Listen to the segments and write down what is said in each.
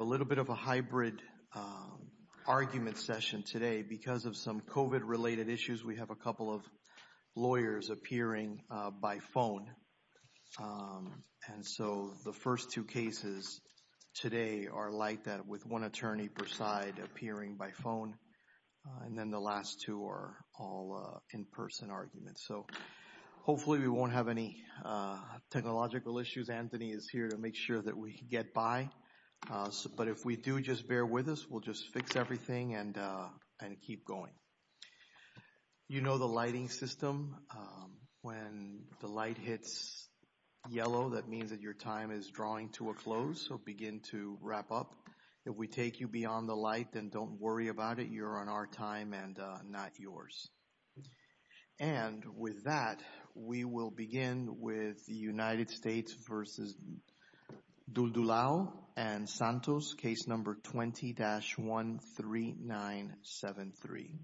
a little bit of a hybrid argument session today because of some COVID related issues. We have a couple of lawyers appearing by phone. And so the first two cases today are like that with one attorney per side appearing by phone. And then the last two are all in person arguments. So hopefully we won't have any technological issues. Anthony is here to make sure that we get by. But if we do, just bear with us. We'll just fix everything and keep going. You know the lighting system. When the light hits yellow, that means that your time is drawing to a close. So begin to wrap up. If we take you beyond the light, then don't worry about it. You're on our time and not yours. And with that, we will begin with the United States v. Duldulao and Santos, case number 20-13973.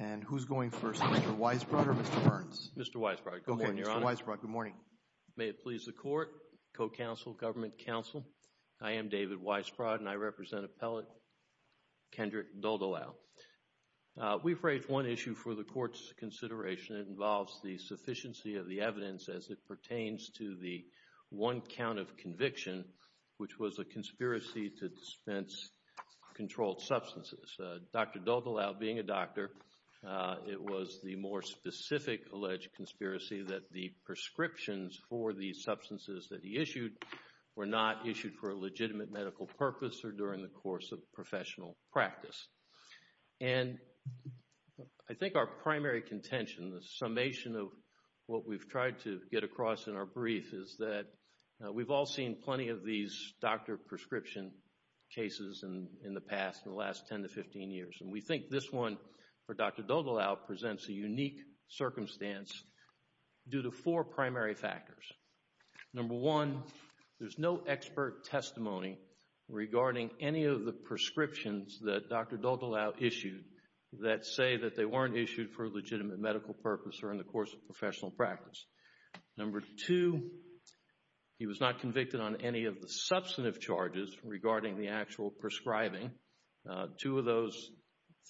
And who's going first, Mr. Weisbrod or Mr. Burns? Mr. Weisbrod. Good morning, Your Honor. Mr. Weisbrod, good morning. May it please the Court, Co-Counsel, Government Counsel, I am David Weisbrod and I represent Appellate Kendrick Duldulao. We've raised one issue for the Court's consideration. It involves the sufficiency of the evidence as it pertains to the one count of conviction, which was a conspiracy to dispense controlled substances. Dr. Duldulao, being a doctor, it was the more specific alleged conspiracy that the prescriptions for the substances that he issued were not issued for a legitimate medical purpose or during the course of professional practice. And I think our primary contention, the summation of what we've tried to get across in our brief, is that we've all seen plenty of these doctor prescription cases in the past, in the last 10 to 15 years. And we think this one for Dr. Duldulao presents a unique circumstance due to four primary factors. Number one, there's no expert testimony regarding any of the prescriptions that Dr. Duldulao issued that say that they weren't issued for a legitimate medical purpose or in the course of professional practice. Number two, he was not convicted on any of the substantive charges regarding the actual prescribing. Two of those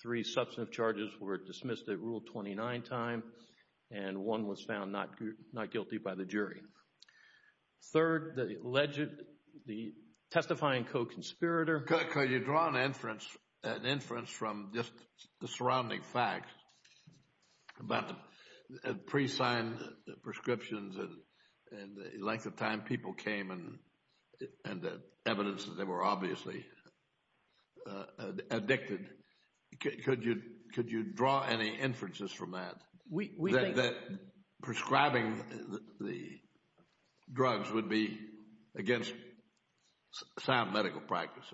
three substantive charges were dismissed at Rule 29 time and one was found not guilty by the jury. Third, the testifying co-conspirator... Could you draw an inference from just the surrounding facts about the pre-signed prescriptions and the length of time people came and the evidence that they were obviously addicted? Could you draw any inferences from that, that prescribing the drugs would be against sound medical practice?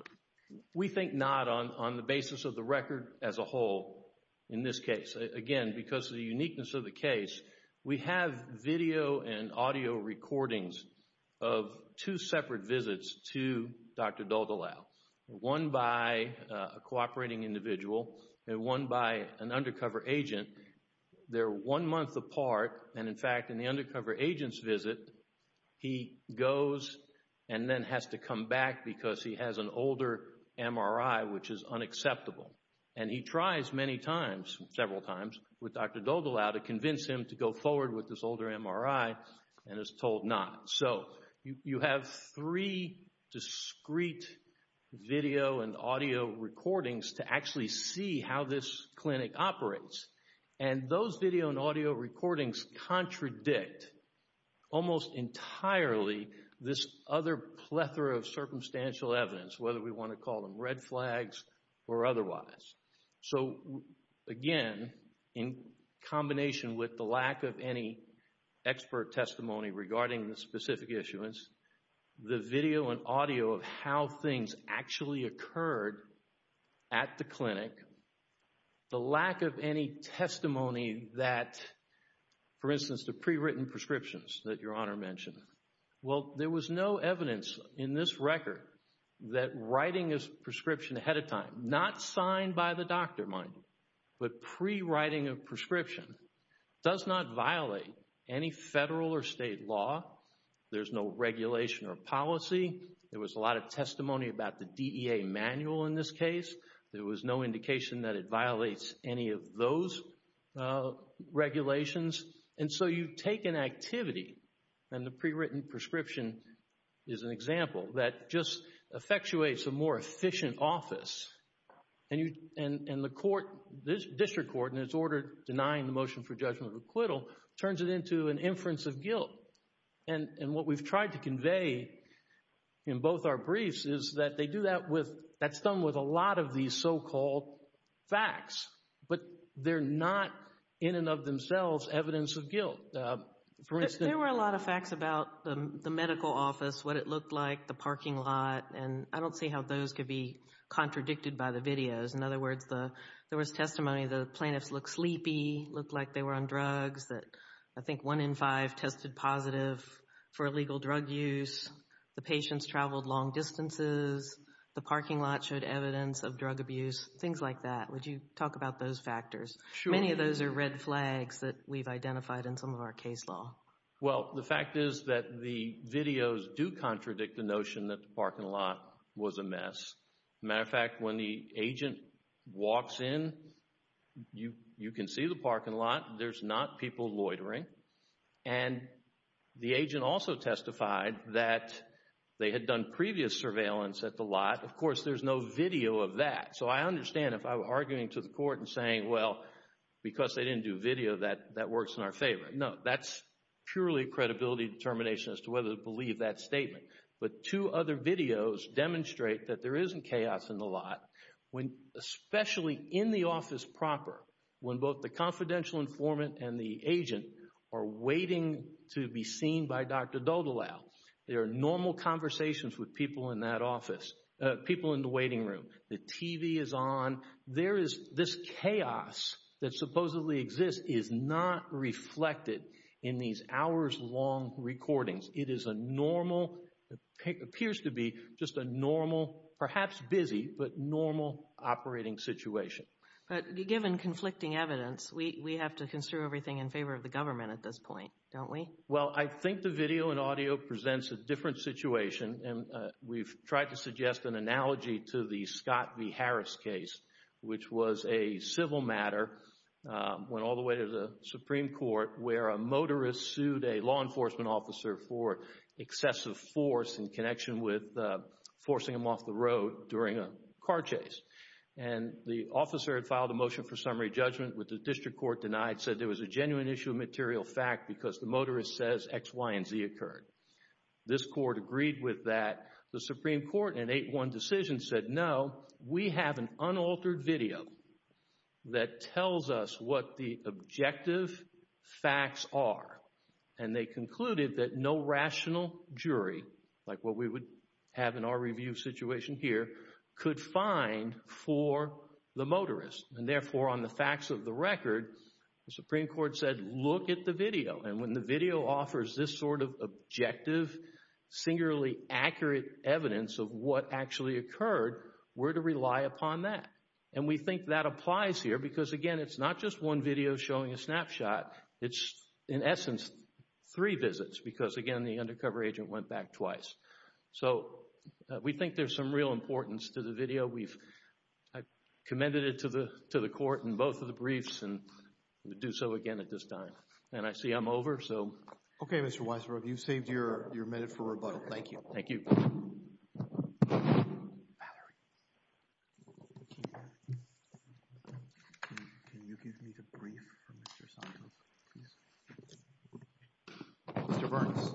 We think not on the basis of the record as a whole in this case. Again, because of the uniqueness of the case, we have video and audio recordings of two separate visits to Dr. Duldulao. One by a cooperating individual and one by an undercover agent. They're one month apart. In fact, in the undercover agent's visit, he goes and then has to come back because he has an older MRI which is unacceptable. He tries many times, several times, with Dr. Duldulao to convince him to go forward with this older MRI and is told not. You have three discrete video and audio recordings that contradict almost entirely this other plethora of circumstantial evidence, whether we want to call them red flags or otherwise. Again, in combination with the lack of any expert testimony regarding the specific issuance, the video and audio of how things actually occurred at the clinic, the lack of any testimony that, for instance, the pre-written prescriptions that Your Honor mentioned. Well, there was no evidence in this record that writing this prescription ahead of time, not signed by the doctor, mind you, but pre-writing a prescription does not violate any federal or state law. There's no regulation or policy. There was a lot of the DEA manual in this case. There was no indication that it violates any of those regulations. And so you take an activity, and the pre-written prescription is an example, that just effectuates a more efficient office. And the court, this district court, in its order denying the motion for judgment of acquittal, turns it into an inference of guilt. And what we've that's done with a lot of these so-called facts, but they're not in and of themselves evidence of guilt. There were a lot of facts about the medical office, what it looked like, the parking lot, and I don't see how those could be contradicted by the videos. In other words, there was testimony the plaintiffs looked sleepy, looked like they were on drugs, that I think one in five tested positive for illegal drug use, the patients traveled long distances, the parking lot showed evidence of drug abuse, things like that. Would you talk about those factors? Many of those are red flags that we've identified in some of our case law. Well, the fact is that the videos do contradict the notion that the parking lot was a mess. Matter of fact, when the agent walks in, you can see the parking lot, there's not people loitering. And the agent also testified that they had done previous surveillance at the lot. Of course, there's no video of that. So, I understand if I were arguing to the court and saying, well, because they didn't do video, that works in our favor. No, that's purely credibility determination as to whether to believe that statement. But two other videos demonstrate that there isn't chaos in the lot, when especially in the office proper, when both the confidential informant and the agent are waiting to be seen by Dr. Doddall. There are normal conversations with people in that office, people in the waiting room, the TV is on. There is this chaos that supposedly exists is not reflected in these hours long recordings. It is a normal, it appears to be just a normal, perhaps busy, but normal operating situation. But given conflicting evidence, we have to consider everything in favor of the government at this point, don't we? Well, I think the video and audio presents a different situation. And we've tried to suggest an analogy to the Scott v. Harris case, which was a civil matter, went all the way to the Supreme Court, where a motorist sued a law enforcement officer for excessive force in connection with forcing him off the road during a car chase. And the officer had filed a motion for summary judgment with the district court denied, said there was a genuine issue of material fact because the motorist says X, Y, and Z occurred. This court agreed with that. The Supreme Court in an 8-1 decision said, no, we have an unaltered video that tells us what the objective facts are. And they concluded that no rational jury, like what we would have in our review situation here, could find for the motorist. And therefore, on the facts of the record, the Supreme Court said, look at the video. And when the video offers this sort of objective, singularly accurate evidence of what actually occurred, we're to rely upon that. And we think that applies here because, again, it's not just one video showing a snapshot. It's, in essence, three visits because, again, the undercover agent went back twice. So we think there's some real importance to the video. I've commended it to the court in both of the briefs and would do so again at this time. And I see I'm over, so... Valerie. Can you give me the brief for Mr. Santos, please? Mr. Burns.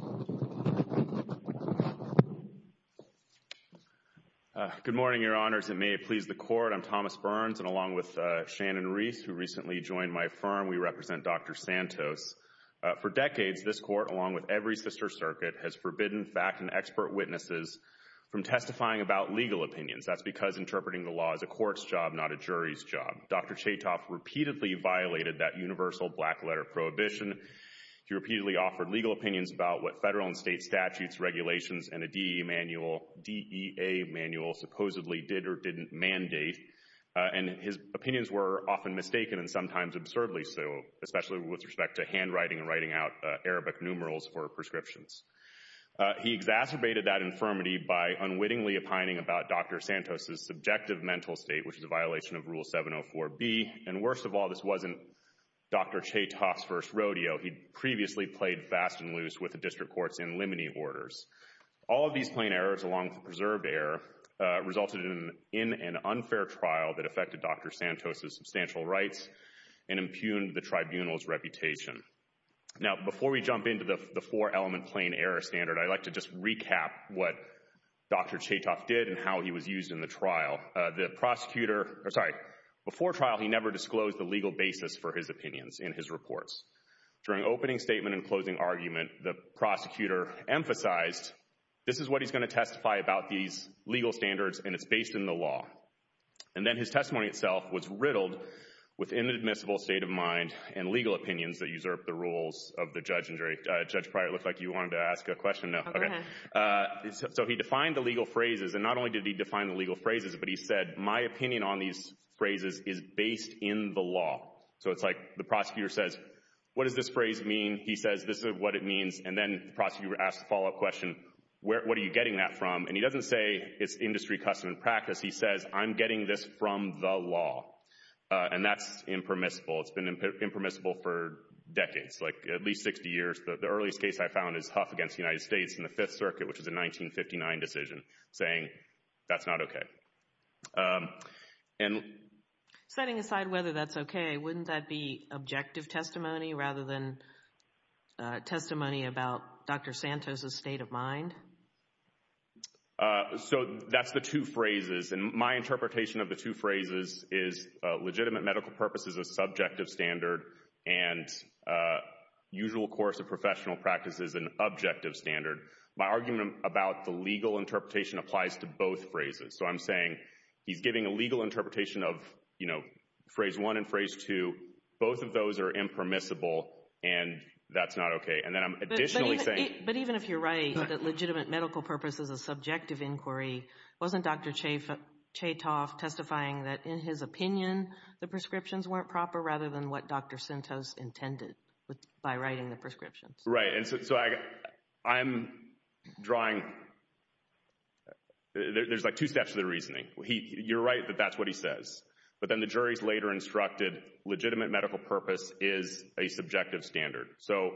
Good morning, Your Honors. And may it please the Court, I'm Thomas Burns. And along with Shannon Reese, who recently joined my firm, we represent Dr. Santos. For decades, this Court, along with every sister circuit, has forbidden fact and expert witnesses from testifying about legal opinions. That's because interpreting the law is a court's job, not a jury's job. Dr. Chaytoff repeatedly violated that universal black letter prohibition. He repeatedly offered legal opinions about what federal and state statutes, regulations, and a DEA manual supposedly did or didn't mandate. And his opinions were often mistaken and sometimes absurdly so, especially with respect to handwriting and writing out Arabic numerals for prescriptions. He exacerbated that infirmity by unwittingly opining about Dr. Santos' subjective mental state, which is a violation of Rule 704B. And worst of all, this wasn't Dr. Chaytoff's first rodeo. He'd previously played fast and loose with the district court's in limine orders. All of these plain errors, along with preserved error, resulted in an unfair trial that affected Dr. Santos' substantial rights and impugned the tribunal's reputation. Now, before we jump into the four plain error standard, I'd like to just recap what Dr. Chaytoff did and how he was used in the trial. Before trial, he never disclosed the legal basis for his opinions in his reports. During opening statement and closing argument, the prosecutor emphasized this is what he's going to testify about these legal standards and it's based in the law. And then his testimony itself was riddled with inadmissible state of mind and legal opinions that usurp the rules of the judge. And Judge Pryor, it looks like you wanted to ask a question. No, okay. So he defined the legal phrases. And not only did he define the legal phrases, but he said, my opinion on these phrases is based in the law. So it's like the prosecutor says, what does this phrase mean? He says, this is what it means. And then the prosecutor asks the follow-up question, what are you getting that from? And he doesn't say it's industry custom and practice. He says, I'm getting this from the law. And that's impermissible. It's been impermissible for at least 60 years. The earliest case I found is Huff v. United States in the Fifth Circuit, which was a 1959 decision, saying that's not okay. Setting aside whether that's okay, wouldn't that be objective testimony rather than testimony about Dr. Santos' state of mind? So that's the two phrases. And my interpretation of the two phrases is legitimate medical purpose is a subjective standard, and usual course of professional practice is an objective standard. My argument about the legal interpretation applies to both phrases. So I'm saying, he's giving a legal interpretation of, you know, phrase one and phrase two, both of those are impermissible, and that's not okay. And then I'm additionally saying— But even if you're right, that legitimate medical purpose is a subjective inquiry, wasn't Dr. Chaytoff testifying that, in his opinion, the prescriptions weren't proper rather than what Dr. Santos intended by writing the prescriptions? Right. And so I'm drawing—there's like two steps to the reasoning. You're right that that's what he says. But then the jury's later instructed legitimate medical purpose is a subjective standard. So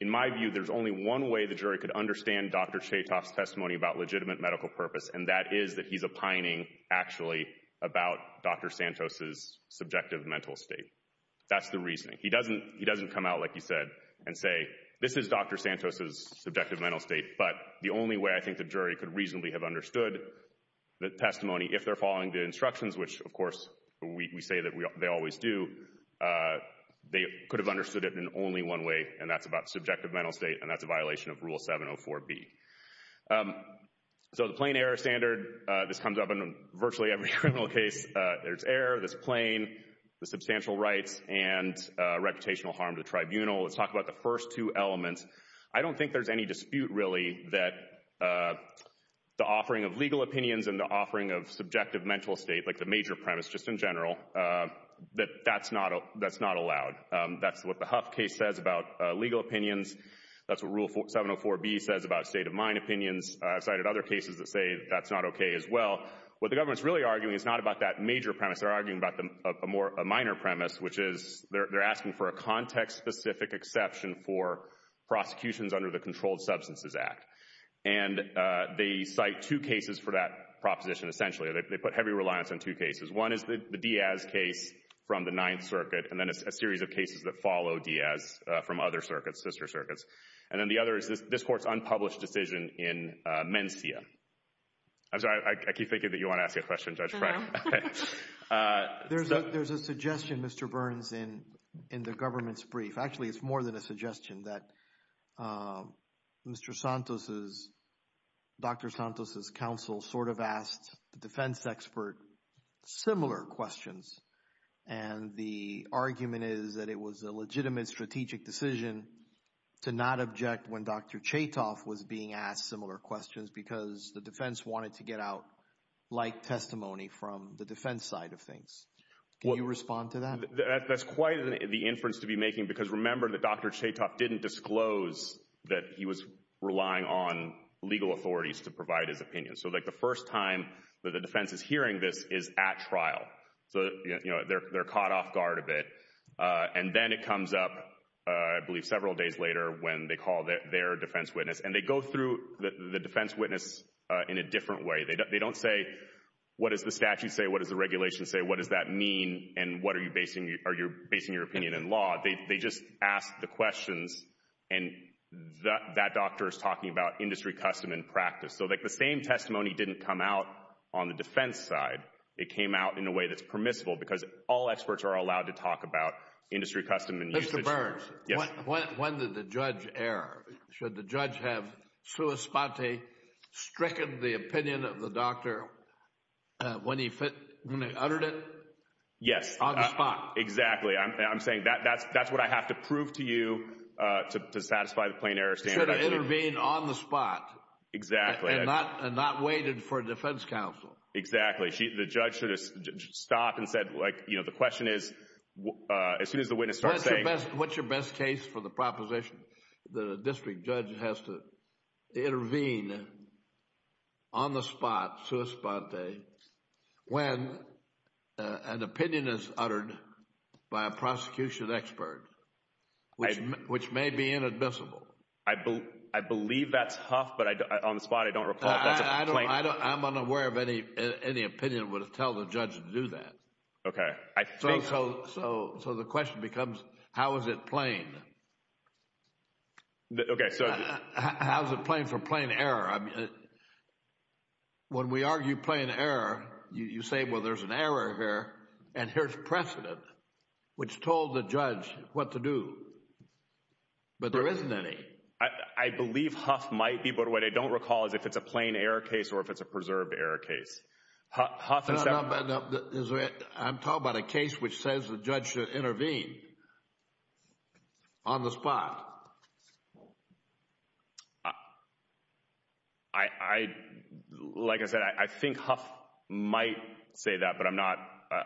in my view, there's only one way the jury could understand Dr. Chaytoff's testimony about legitimate medical purpose, and that is that he's opining, actually, about Dr. Santos's subjective mental state. That's the reasoning. He doesn't come out, like you said, and say, this is Dr. Santos's subjective mental state. But the only way I think the jury could reasonably have understood the testimony, if they're following the instructions, which, of course, we say that they always do, they could have understood it in only one way, and that's about subjective mental state, and that's a violation of Rule 704B. So the plain error standard, this comes up in virtually every criminal case. There's error, there's plain, there's substantial rights, and reputational harm to the tribunal. Let's talk about the first two elements. I don't think there's any dispute, really, that the offering of legal opinions and the offering of subjective mental state, like the major premise just in general, that that's not allowed. That's what the Huff case says about legal opinions. That's what Rule 704B says about state of mind opinions. I've cited other cases that say that's not okay as well. What the government's really arguing is not about that major premise. They're arguing about a minor premise, which is they're asking for a context-specific exception for prosecutions under the Controlled Substances Act. And they cite two cases for that proposition, essentially. They put heavy reliance on two cases. One is the Diaz case from the Ninth Circuit, and then a series of cases that follow Diaz from other circuits, sister circuits. And then the other is this court's unpublished decision in Mencia. I'm sorry, I keep thinking that you want to ask a question, Judge Frank. There's a suggestion, Mr. Burns, in the government's brief. Actually, it's more than a suggestion. That Mr. Santos's, Dr. Santos's counsel sort of asked the defense expert similar questions. And the argument is that it was a legitimate strategic decision to not object when Dr. Chaytoff was being asked similar questions because the defense wanted to get out like testimony from the defense side of things. Can you respond to that? That's quite the inference to be making because remember that Dr. Chaytoff didn't disclose that he was relying on legal authorities to provide his opinion. So like the first time that the defense is hearing this is at trial. So, you know, they're caught off guard a bit. And then it comes up, I believe several days later when they call their defense witness and they go through the defense witness in a different way. They don't say, what does the statute say? What does the regulation say? What does that mean? And what are you basing your opinion in law? They just ask the questions and that doctor is talking about industry custom and practice. So like the same testimony didn't come out on the defense side. It came out in a way that's industry custom. Mr. Burns, when did the judge err? Should the judge have stricken the opinion of the doctor when he uttered it? Yes. On the spot. Exactly. I'm saying that's what I have to prove to you to satisfy the plain error standard. Should have intervened on the spot. Exactly. And not waited for defense counsel. Exactly. The judge should have stopped and said, like, you know, the question is, as soon as the witness starts saying. What's your best case for the proposition that a district judge has to intervene on the spot, sua sponte, when an opinion is uttered by a prosecution expert, which may be inadmissible. I believe that's huff, but on the spot, I don't recall. I'm unaware of any opinion would tell the judge to do that. OK, I think so. So the question becomes, how is it plain? OK, so how's it playing for plain error? When we argue plain error, you say, well, there's an error here and here's precedent, which told the judge what to do. But there isn't any. I believe huff might be, but what I don't it's a preserved error case. I'm talking about a case which says the judge should intervene on the spot. I like I said, I think huff might say that, but I'm not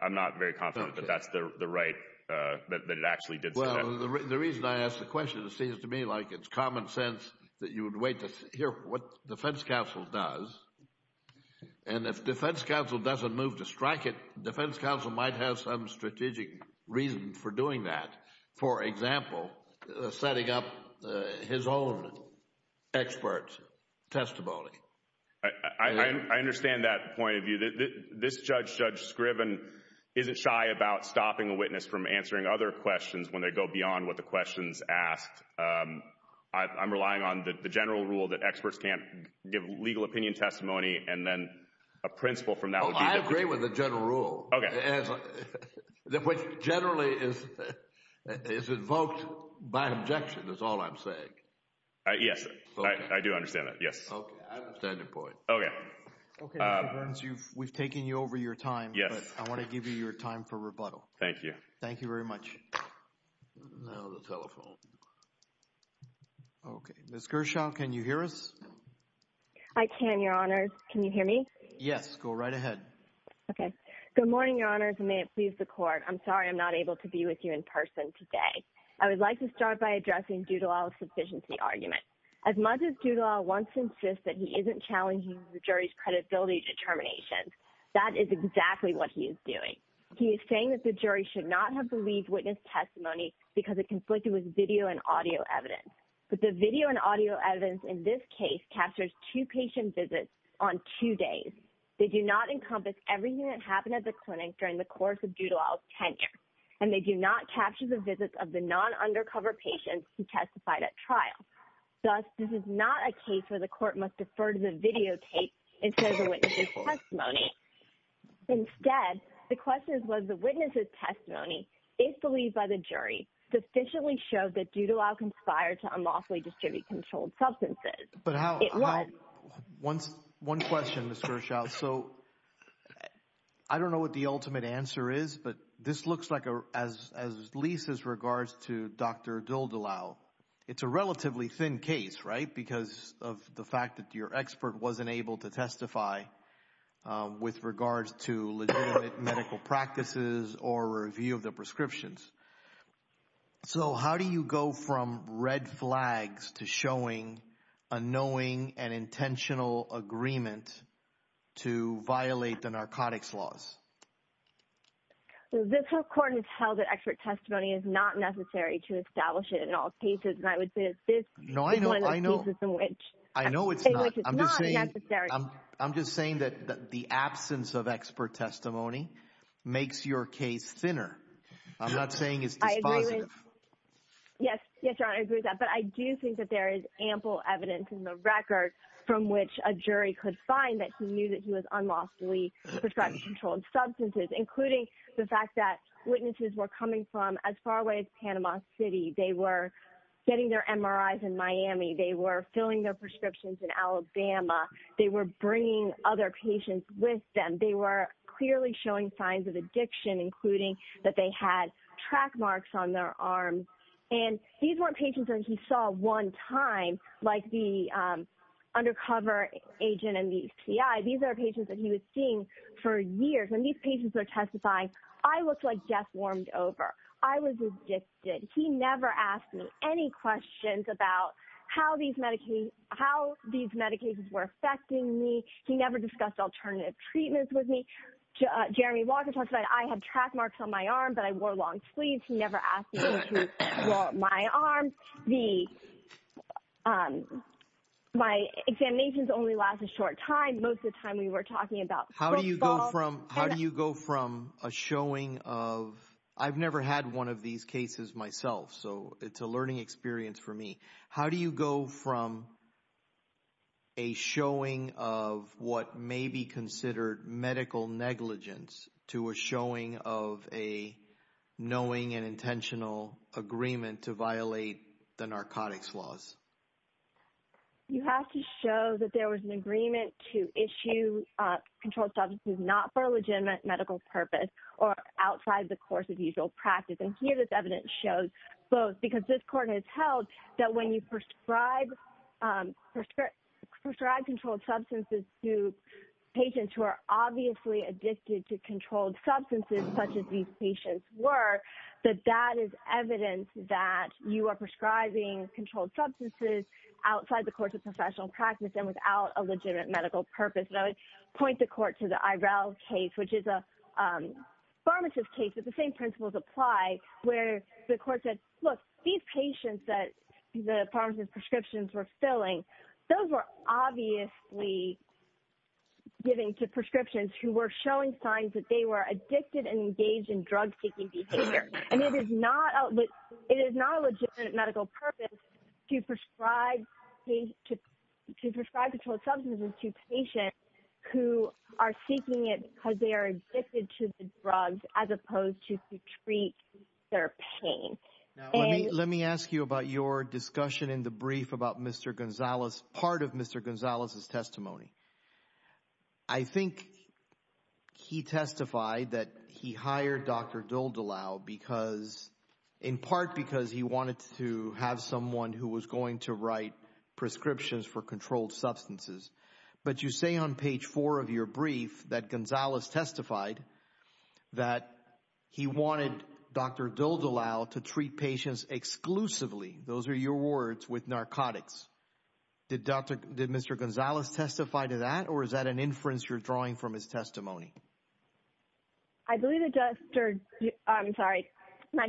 I'm not very confident that that's the right that it actually did. Well, the reason I ask the question, it seems to me like it's common sense that you would wait to hear what defense counsel does. And if defense counsel doesn't move to strike it, defense counsel might have some strategic reason for doing that. For example, setting up his own expert testimony. I understand that point of view. This judge, Judge Scriven, isn't shy about stopping a witness from answering other questions when they go beyond what the questions asked. I'm relying on the general rule that experts can't give legal opinion testimony and then a principle from that. I agree with the general rule, which generally is invoked by objection is all I'm saying. Yes, I do understand that. Yes, I understand the point. Okay. Okay. We've taken you over your time. Yes. I want to give you your time for rebuttal. Thank you. Thank you very much. Now the telephone. Okay. Ms. Gershaw, can you hear us? I can, Your Honors. Can you hear me? Yes. Go right ahead. Okay. Good morning, Your Honors, and may it please the Court. I'm sorry I'm not able to be with you in person today. I would like to start by addressing Dudelaw's sufficiency argument. As much as Dudelaw wants to insist that he isn't challenging the jury's should not have believed witness testimony because it conflicted with video and audio evidence. But the video and audio evidence in this case captures two patient visits on two days. They do not encompass everything that happened at the clinic during the course of Dudelaw's tenure, and they do not capture the visits of the non-undercover patients who testified at trial. Thus, this is not a case where the Court must defer to the videotape instead of the witness's testimony if believed by the jury sufficiently shows that Dudelaw conspired to unlawfully distribute controlled substances. But how? One question, Ms. Gershaw. So I don't know what the ultimate answer is, but this looks like, at least as regards to Dr. Dudelaw, it's a relatively thin case, right? Because of the fact that your expert wasn't able to testify with regards to legitimate medical practices or review of the prescriptions. So how do you go from red flags to showing a knowing and intentional agreement to violate the narcotics laws? This Court has held that expert testimony is not necessary to establish it in all cases, and I would say that this is one of those cases in which it's not necessary. I'm just saying that the absence of expert testimony makes your case thinner. I'm not saying it's dispositive. Yes, Your Honor, I agree with that. But I do think that there is ample evidence in the record from which a jury could find that he knew that he was unlawfully prescribing controlled substances, including the fact that witnesses were coming from as far away as Panama City. They were getting their MRIs in Miami. They were filling their prescriptions in Alabama. They were bringing other patients with them. They were clearly showing signs of addiction, including that they had track marks on their arms. And these weren't patients that he saw one time, like the undercover agent and the C.I. These are patients that he was seeing for years. When these patients are testifying, I looked like death warmed over. I was addicted. He never asked me any questions about how these medications were affecting me. He never discussed alternative treatments with me. Jeremy Walker testified, I have track marks on my arm, but I wore long sleeves. He never asked me to draw my arms. My examinations only last a short time. Most of the time, we were talking about how do you go from how do you go from a showing of I've never had one of these cases myself. So it's a learning experience for me. How do you go from. A showing of what may be considered medical negligence to a showing of a knowing and intentional agreement to violate the narcotics laws. You have to show that there was an agreement to issue controlled substances not for legitimate medical purpose or outside the course of usual practice. And here, this evidence shows both because this court has held that when you prescribe controlled substances to patients who are obviously addicted to controlled substances, such as these patients were, that that is evidence that you are prescribing controlled substances outside the course of professional practice and without a legitimate medical purpose. And I would point the court to the IRL case, which is a pharmacist case that the same principles apply where the court said, look, these patients that the pharmacist prescriptions were filling, those were obviously giving to prescriptions who were showing signs that they were addicted and engaged in drug seeking behavior. And it is not it is not a legitimate medical purpose to prescribe to prescribe controlled substances to patients who are seeking it because they are addicted to the drugs as opposed to to treat their pain. Let me ask you about your discussion in the brief about Mr. Gonzalez, part of Mr. Gonzalez's testimony. I think he testified that he hired Dr. Dildalau because in part because he wanted to have someone who was going to write prescriptions for controlled substances. But you say on page four of your brief that Gonzalez testified that he wanted Dr. Dildalau to treat patients exclusively. Those are your words with narcotics. Did Dr. Did Mr. Gonzalez testify to that, or is that an inference you're drawing from his testimony? I believe it does. I'm sorry.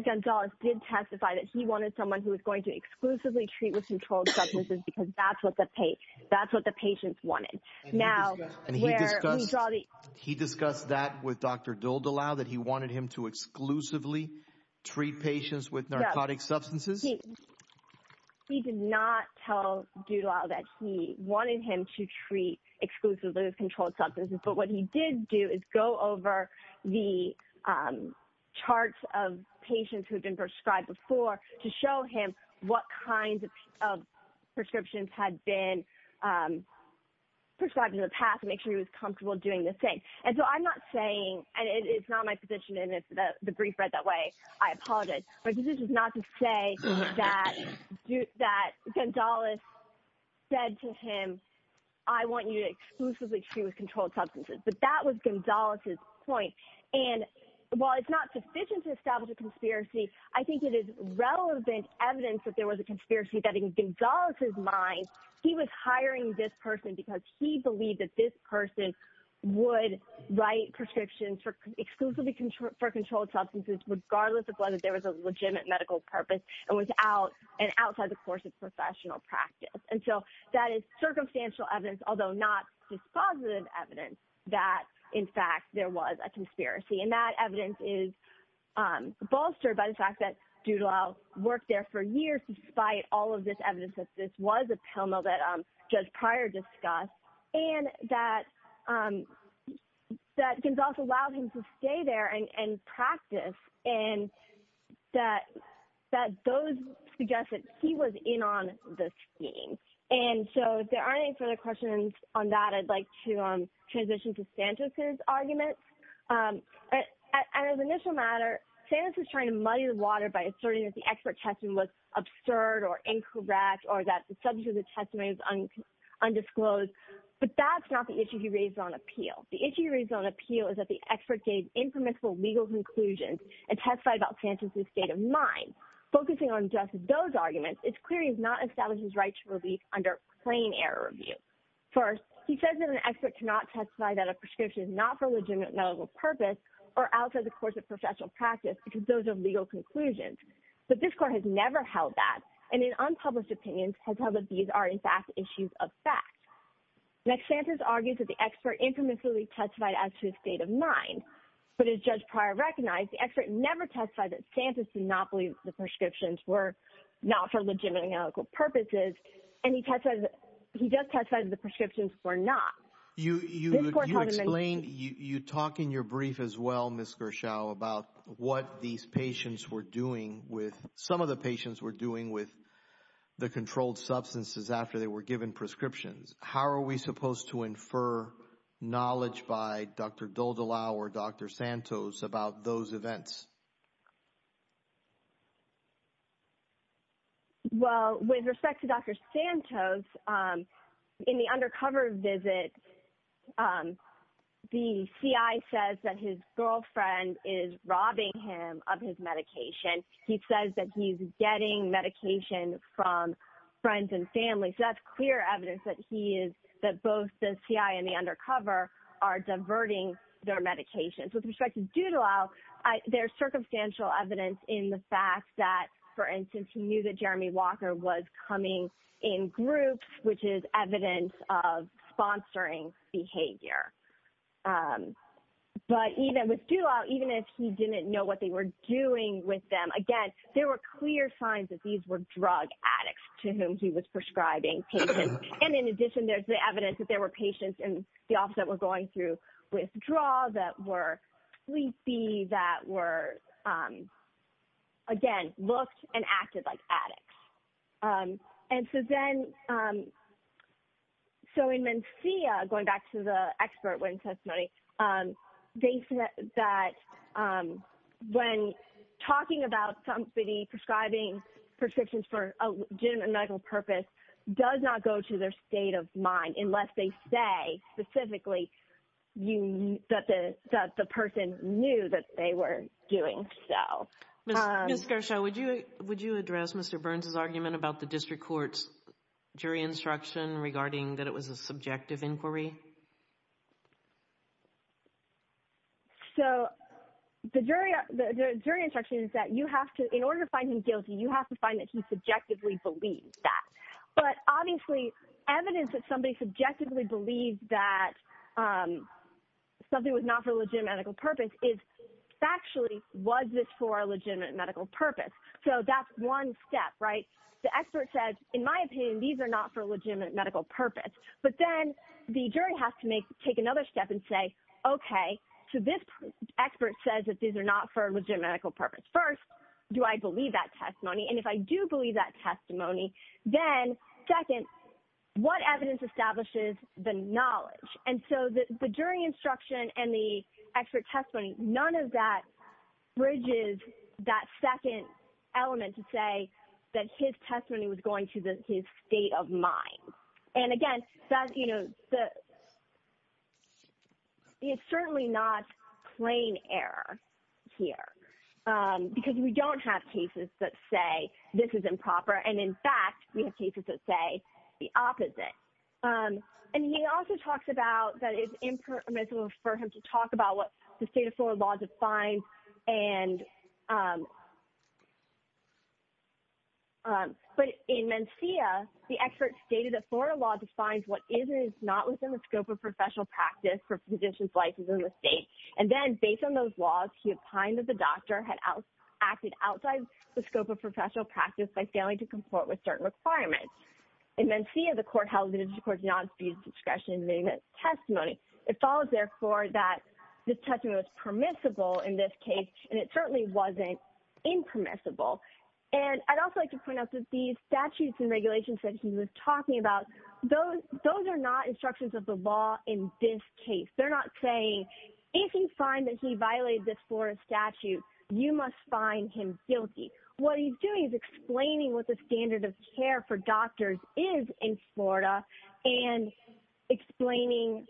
Gonzalez did testify that he wanted someone who was going to exclusively treat with controlled substances because that's what the that's what patients wanted. Now, he discussed that with Dr. Dildalau that he wanted him to exclusively treat patients with narcotic substances. He did not tell Dildalau that he wanted him to treat exclusively with controlled substances. But what he did do is go over the charts of patients who prescribed in the past to make sure he was comfortable doing the thing. And so I'm not saying, and it's not my position, and it's the brief read that way, I apologize, but this is not to say that that Gonzalez said to him, I want you to exclusively treat with controlled substances. But that was Gonzalez's point. And while it's not sufficient to establish a conspiracy, I think it is relevant evidence that there was a conspiracy that in Gonzalez's mind, he was hiring this person because he believed that this person would write prescriptions for exclusively controlled substances, regardless of whether there was a legitimate medical purpose, and without an outside the course of professional practice. And so that is circumstantial evidence, although not dispositive evidence, that, in fact, there was a conspiracy. And that evidence is bolstered by the fact that Dildalau worked there for years, despite all of this evidence that this was a pill mill that Judge Pryor discussed, and that Gonzalez allowed him to stay there and practice, and that those suggest that he was in on this scheme. And so if there aren't any further questions on that, I'd like to transition to Santos's argument. And as an initial matter, Santos is trying to muddy the water by asserting that the expert testing was absurd or incorrect, or that the subject of the testimony was undisclosed. But that's not the issue he raised on appeal. The issue he raised on appeal is that the expert gave impermissible legal conclusions and testified about Santos's state of mind. Focusing on just those arguments, it's clear he has not established his right to relief under plain error review. First, he says that an expert cannot testify that a prescription is not for a legitimate medical purpose or outside the course of professional practice, because those are legal conclusions. But this court has never held that, and in unpublished opinions, has held that these are, in fact, issues of fact. Next, Santos argues that the expert infamously testified as to his state of mind. But as Judge Pryor recognized, the expert never testified that Santos did not believe the prescriptions were not for legitimate medical purposes, and he just testified that the prescriptions were not. You talk in your brief as well, Ms. Gershaw, about what these patients were doing with, some of the patients were doing with the controlled substances after they were given prescriptions. How are we supposed to infer knowledge by Dr. Doldalau or Dr. Santos about those events? Well, with respect to Dr. Santos, in the undercover visit, the CI says that his girlfriend is robbing him of his medication. He says that he's getting medication from friends and family, so that's clear evidence that he is, that both the CI and the undercover are diverting their medications. With respect to Doldalau, there's circumstantial evidence in the fact that, for instance, he knew that Jeremy Walker was coming in groups, which is evidence of sponsoring behavior. But even with Doldalau, even if he didn't know what they were doing with them, again, there were clear signs that these were drug addicts to whom he was prescribing patients. And in addition, there's the evidence that there were patients in the office that were going through withdrawal that were sleepy, that were, again, looked and acted like addicts. And so then, so in Mencia, going back to the expert witness testimony, they said that when talking about somebody prescribing prescriptions for a legitimate medical purpose does not go to their state of mind unless they say specifically that the person knew that they were doing so. Ms. Garcia, would you address Mr. Burns' argument about the district court's jury instruction regarding that it was a subjective inquiry? So the jury instruction is that you have to, in order to find him guilty, you have to find that he subjectively believed that. But obviously, evidence that somebody subjectively believed that something was not for a legitimate medical purpose is actually, was this for a legitimate medical purpose? So that's one step, right? The expert says, in my opinion, these are not for a legitimate medical purpose. But then the jury has to take another step and say, okay, so this expert says that these are not for a legitimate medical purpose. First, do I believe that testimony? And if I do believe that testimony, then second, what evidence establishes the knowledge? And so the jury instruction and the expert testimony, none of that bridges that second element to say that his testimony was going to his state of mind. And again, it's certainly not plain error here because we don't have cases that say this is the opposite. And he also talks about that it's impermissible for him to talk about what the state of Florida law defines. But in Mencia, the expert stated that Florida law defines what is and is not within the scope of professional practice for physician's license in the state. And then based on those laws, he opined that the doctor had acted outside the scope of professional practice by failing to comport with certain requirements. In Mencia, the court held that it is the court's non-fused discretion in making a testimony. It follows, therefore, that the testimony was permissible in this case, and it certainly wasn't impermissible. And I'd also like to point out that these statutes and regulations that he was talking about, those are not instructions of the law in this case. They're not saying, if you find that he violated this Florida statute, you must find him guilty. What he's doing is explaining what the standard of care for doctors is in Florida and explaining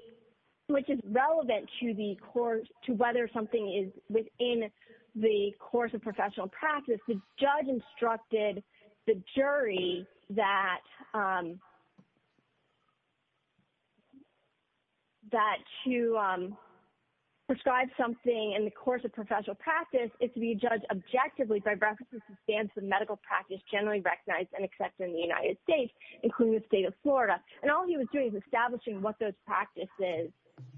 which is relevant to whether something is within the course of professional practice. The judge instructed the jury that to prescribe something in the course of professional practice, it's to be judged objectively by reference to the medical practice generally recognized and accepted in the United States, including the state of Florida. And all he was doing is establishing what those practices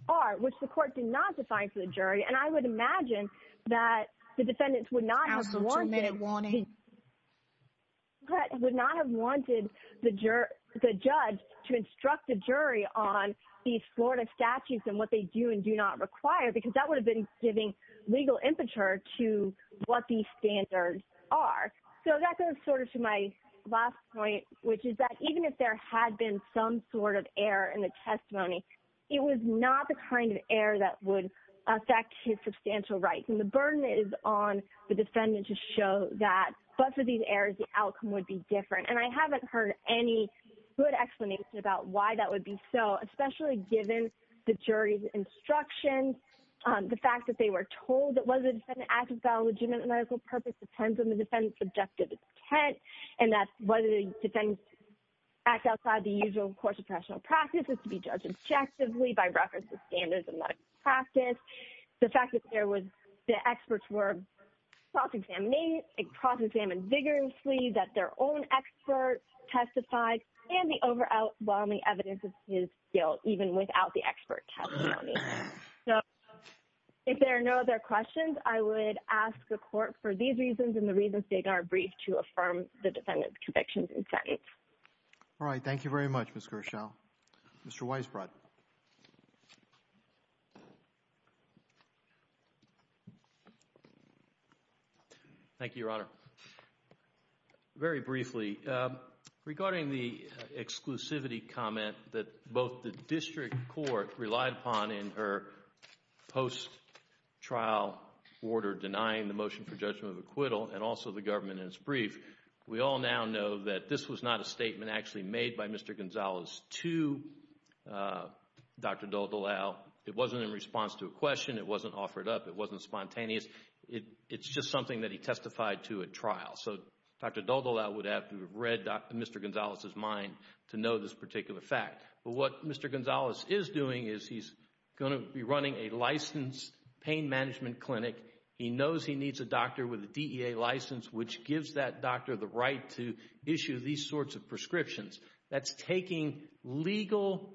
are, which the court did not define for the jury. And I would imagine that the defendants would not have wanted the judge to instruct the jury on these Florida statutes and what they do and do not require, because that would have been giving legal impetus to what these standards are. So that goes sort of to my last point, which is that even if there had been some sort of error in the testimony, it was not the kind of error that would affect his substantial rights. And the burden is on the defendant to show that, but for these errors, the outcome would be different. And I haven't heard any good explanation about why that would be so, especially given the jury's instruction, the fact that they were told that whether the defendant acted without a legitimate medical purpose depends on the defendant's objective intent. And that's whether the defendants act outside the usual course of professional practice is to be judged objectively by reference to the evidence. So I would imagine that the experts were cross-examined vigorously, that their own expert testified, and the overall evidence is still even without the expert testimony. So if there are no other questions, I would ask the court for these reasons and the reasons they are briefed to affirm the defendant's convictions and sentence. All right. Thank you very much, Ms. Gershow. Mr. Weisbrot. Thank you, Your Honor. Very briefly, regarding the exclusivity comment that both the district court relied upon in her post-trial order denying the motion for judgment of acquittal and also the to Dr. Daldolau, it wasn't in response to a question. It wasn't offered up. It wasn't spontaneous. It's just something that he testified to at trial. So Dr. Daldolau would have to have read Mr. Gonzalez's mind to know this particular fact. But what Mr. Gonzalez is doing is he's going to be running a licensed pain management clinic. He knows he needs a doctor with a DEA license, which gives that doctor the right to issue these sorts of prescriptions. That's taking legal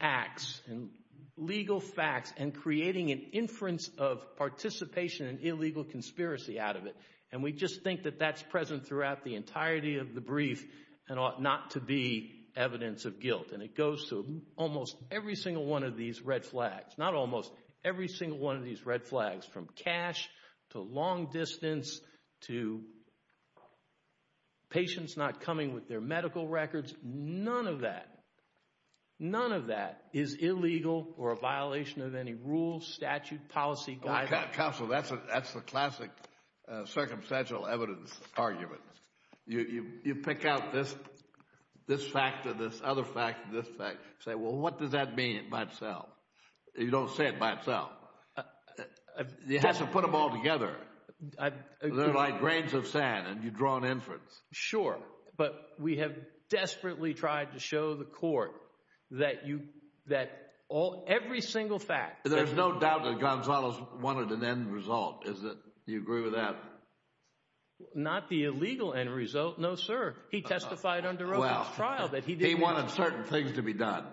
acts and legal facts and creating an inference of participation and illegal conspiracy out of it. And we just think that that's present throughout the entirety of the brief and ought not to be evidence of guilt. And it goes to almost every single one of these red flags, not almost every single one of these red flags, from cash to long distance to patients not coming with their medical records. None of that, none of that is illegal or a violation of any rules, statute, policy guidelines. Counsel, that's the classic circumstantial evidence argument. You pick out this fact or this other fact, this fact, say, well, what does that mean by itself? You don't say it by itself. You have to put them all together. They're like grains of sand and you draw an inference. Sure. But we have desperately tried to show the court that every single fact. There's no doubt that Gonzalez wanted an end result. Do you agree with that? Not the illegal end result. No, sir. He testified under trial that he did. He wanted certain things to be done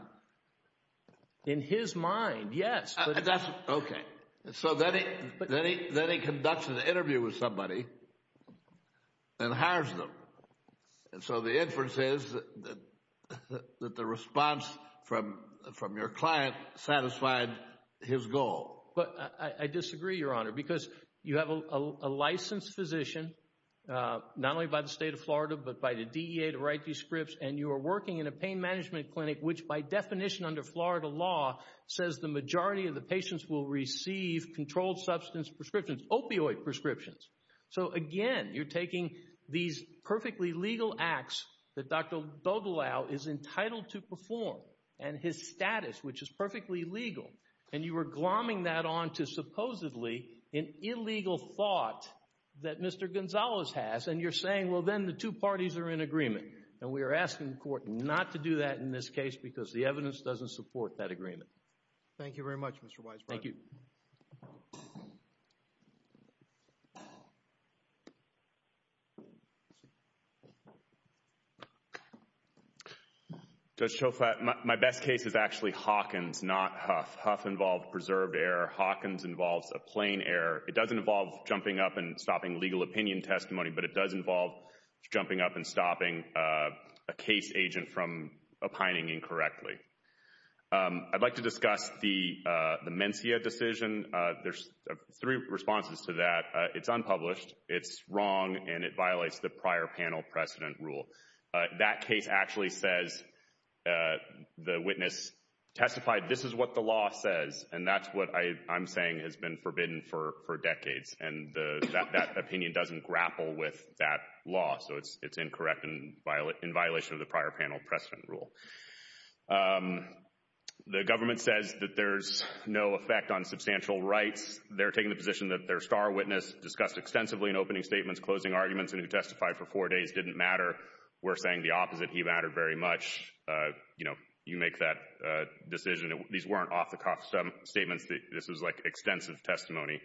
in his mind. Yes, that's OK. So then he then he then he conducts an interview with somebody and hires them. And so the inference is that the response from from your client satisfied his goal. But I disagree, Your Honor, because you have a licensed physician not only by the state of and you are working in a pain management clinic, which by definition under Florida law says the majority of the patients will receive controlled substance prescriptions, opioid prescriptions. So, again, you're taking these perfectly legal acts that Dr. Bogelow is entitled to perform and his status, which is perfectly legal. And you are glomming that on to supposedly an illegal thought that Mr. Gonzalez has. And you're saying, well, then the two parties are in agreement and we are asking the court not to do that in this case because the evidence doesn't support that agreement. Thank you very much, Mr. Weisbrot. Thank you. Judge Shofrat, my best case is actually Hawkins, not Huff. Huff involved preserved error. Hawkins involves a plain error. It doesn't involve jumping up and stopping legal opinion testimony, but it does involve jumping up and stopping a case agent from opining incorrectly. I'd like to discuss the Mencia decision. There's three responses to that. It's unpublished, it's wrong, and it violates the prior panel precedent rule. That case actually says the witness testified, this is what the law says. And that's what I'm saying has been forbidden for that law. So it's incorrect and in violation of the prior panel precedent rule. The government says that there's no effect on substantial rights. They're taking the position that their star witness discussed extensively in opening statements, closing arguments, and who testified for four days didn't matter. We're saying the opposite. He mattered very much. You make that decision. These weren't off-the-cuff statements. This was like extensive testimony.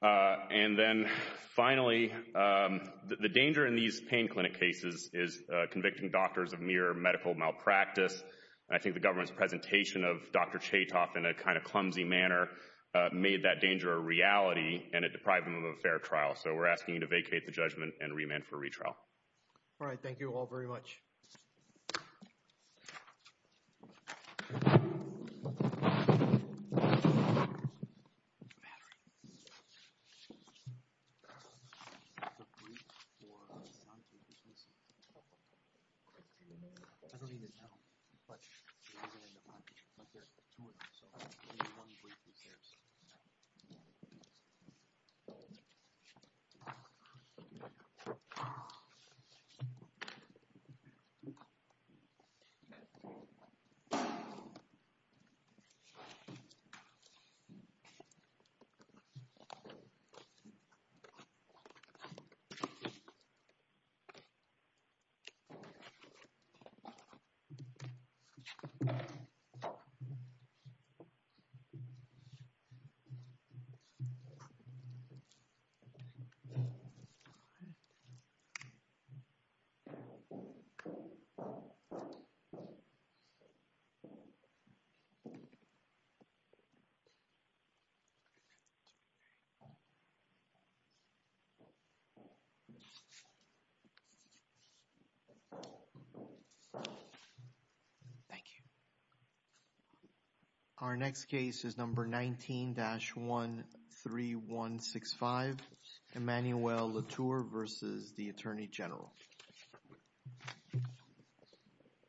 And then finally, the danger in these pain clinic cases is convicting doctors of mere medical malpractice. I think the government's presentation of Dr. Chaytoff in a kind of clumsy manner made that danger a reality and it deprived them of a fair trial. So we're asking you to vacate the judgment and remand for retrial. All right, thank you all very much. Thank you. Our next case is number 19-13165, Emmanuel Latour versus the Attorney General.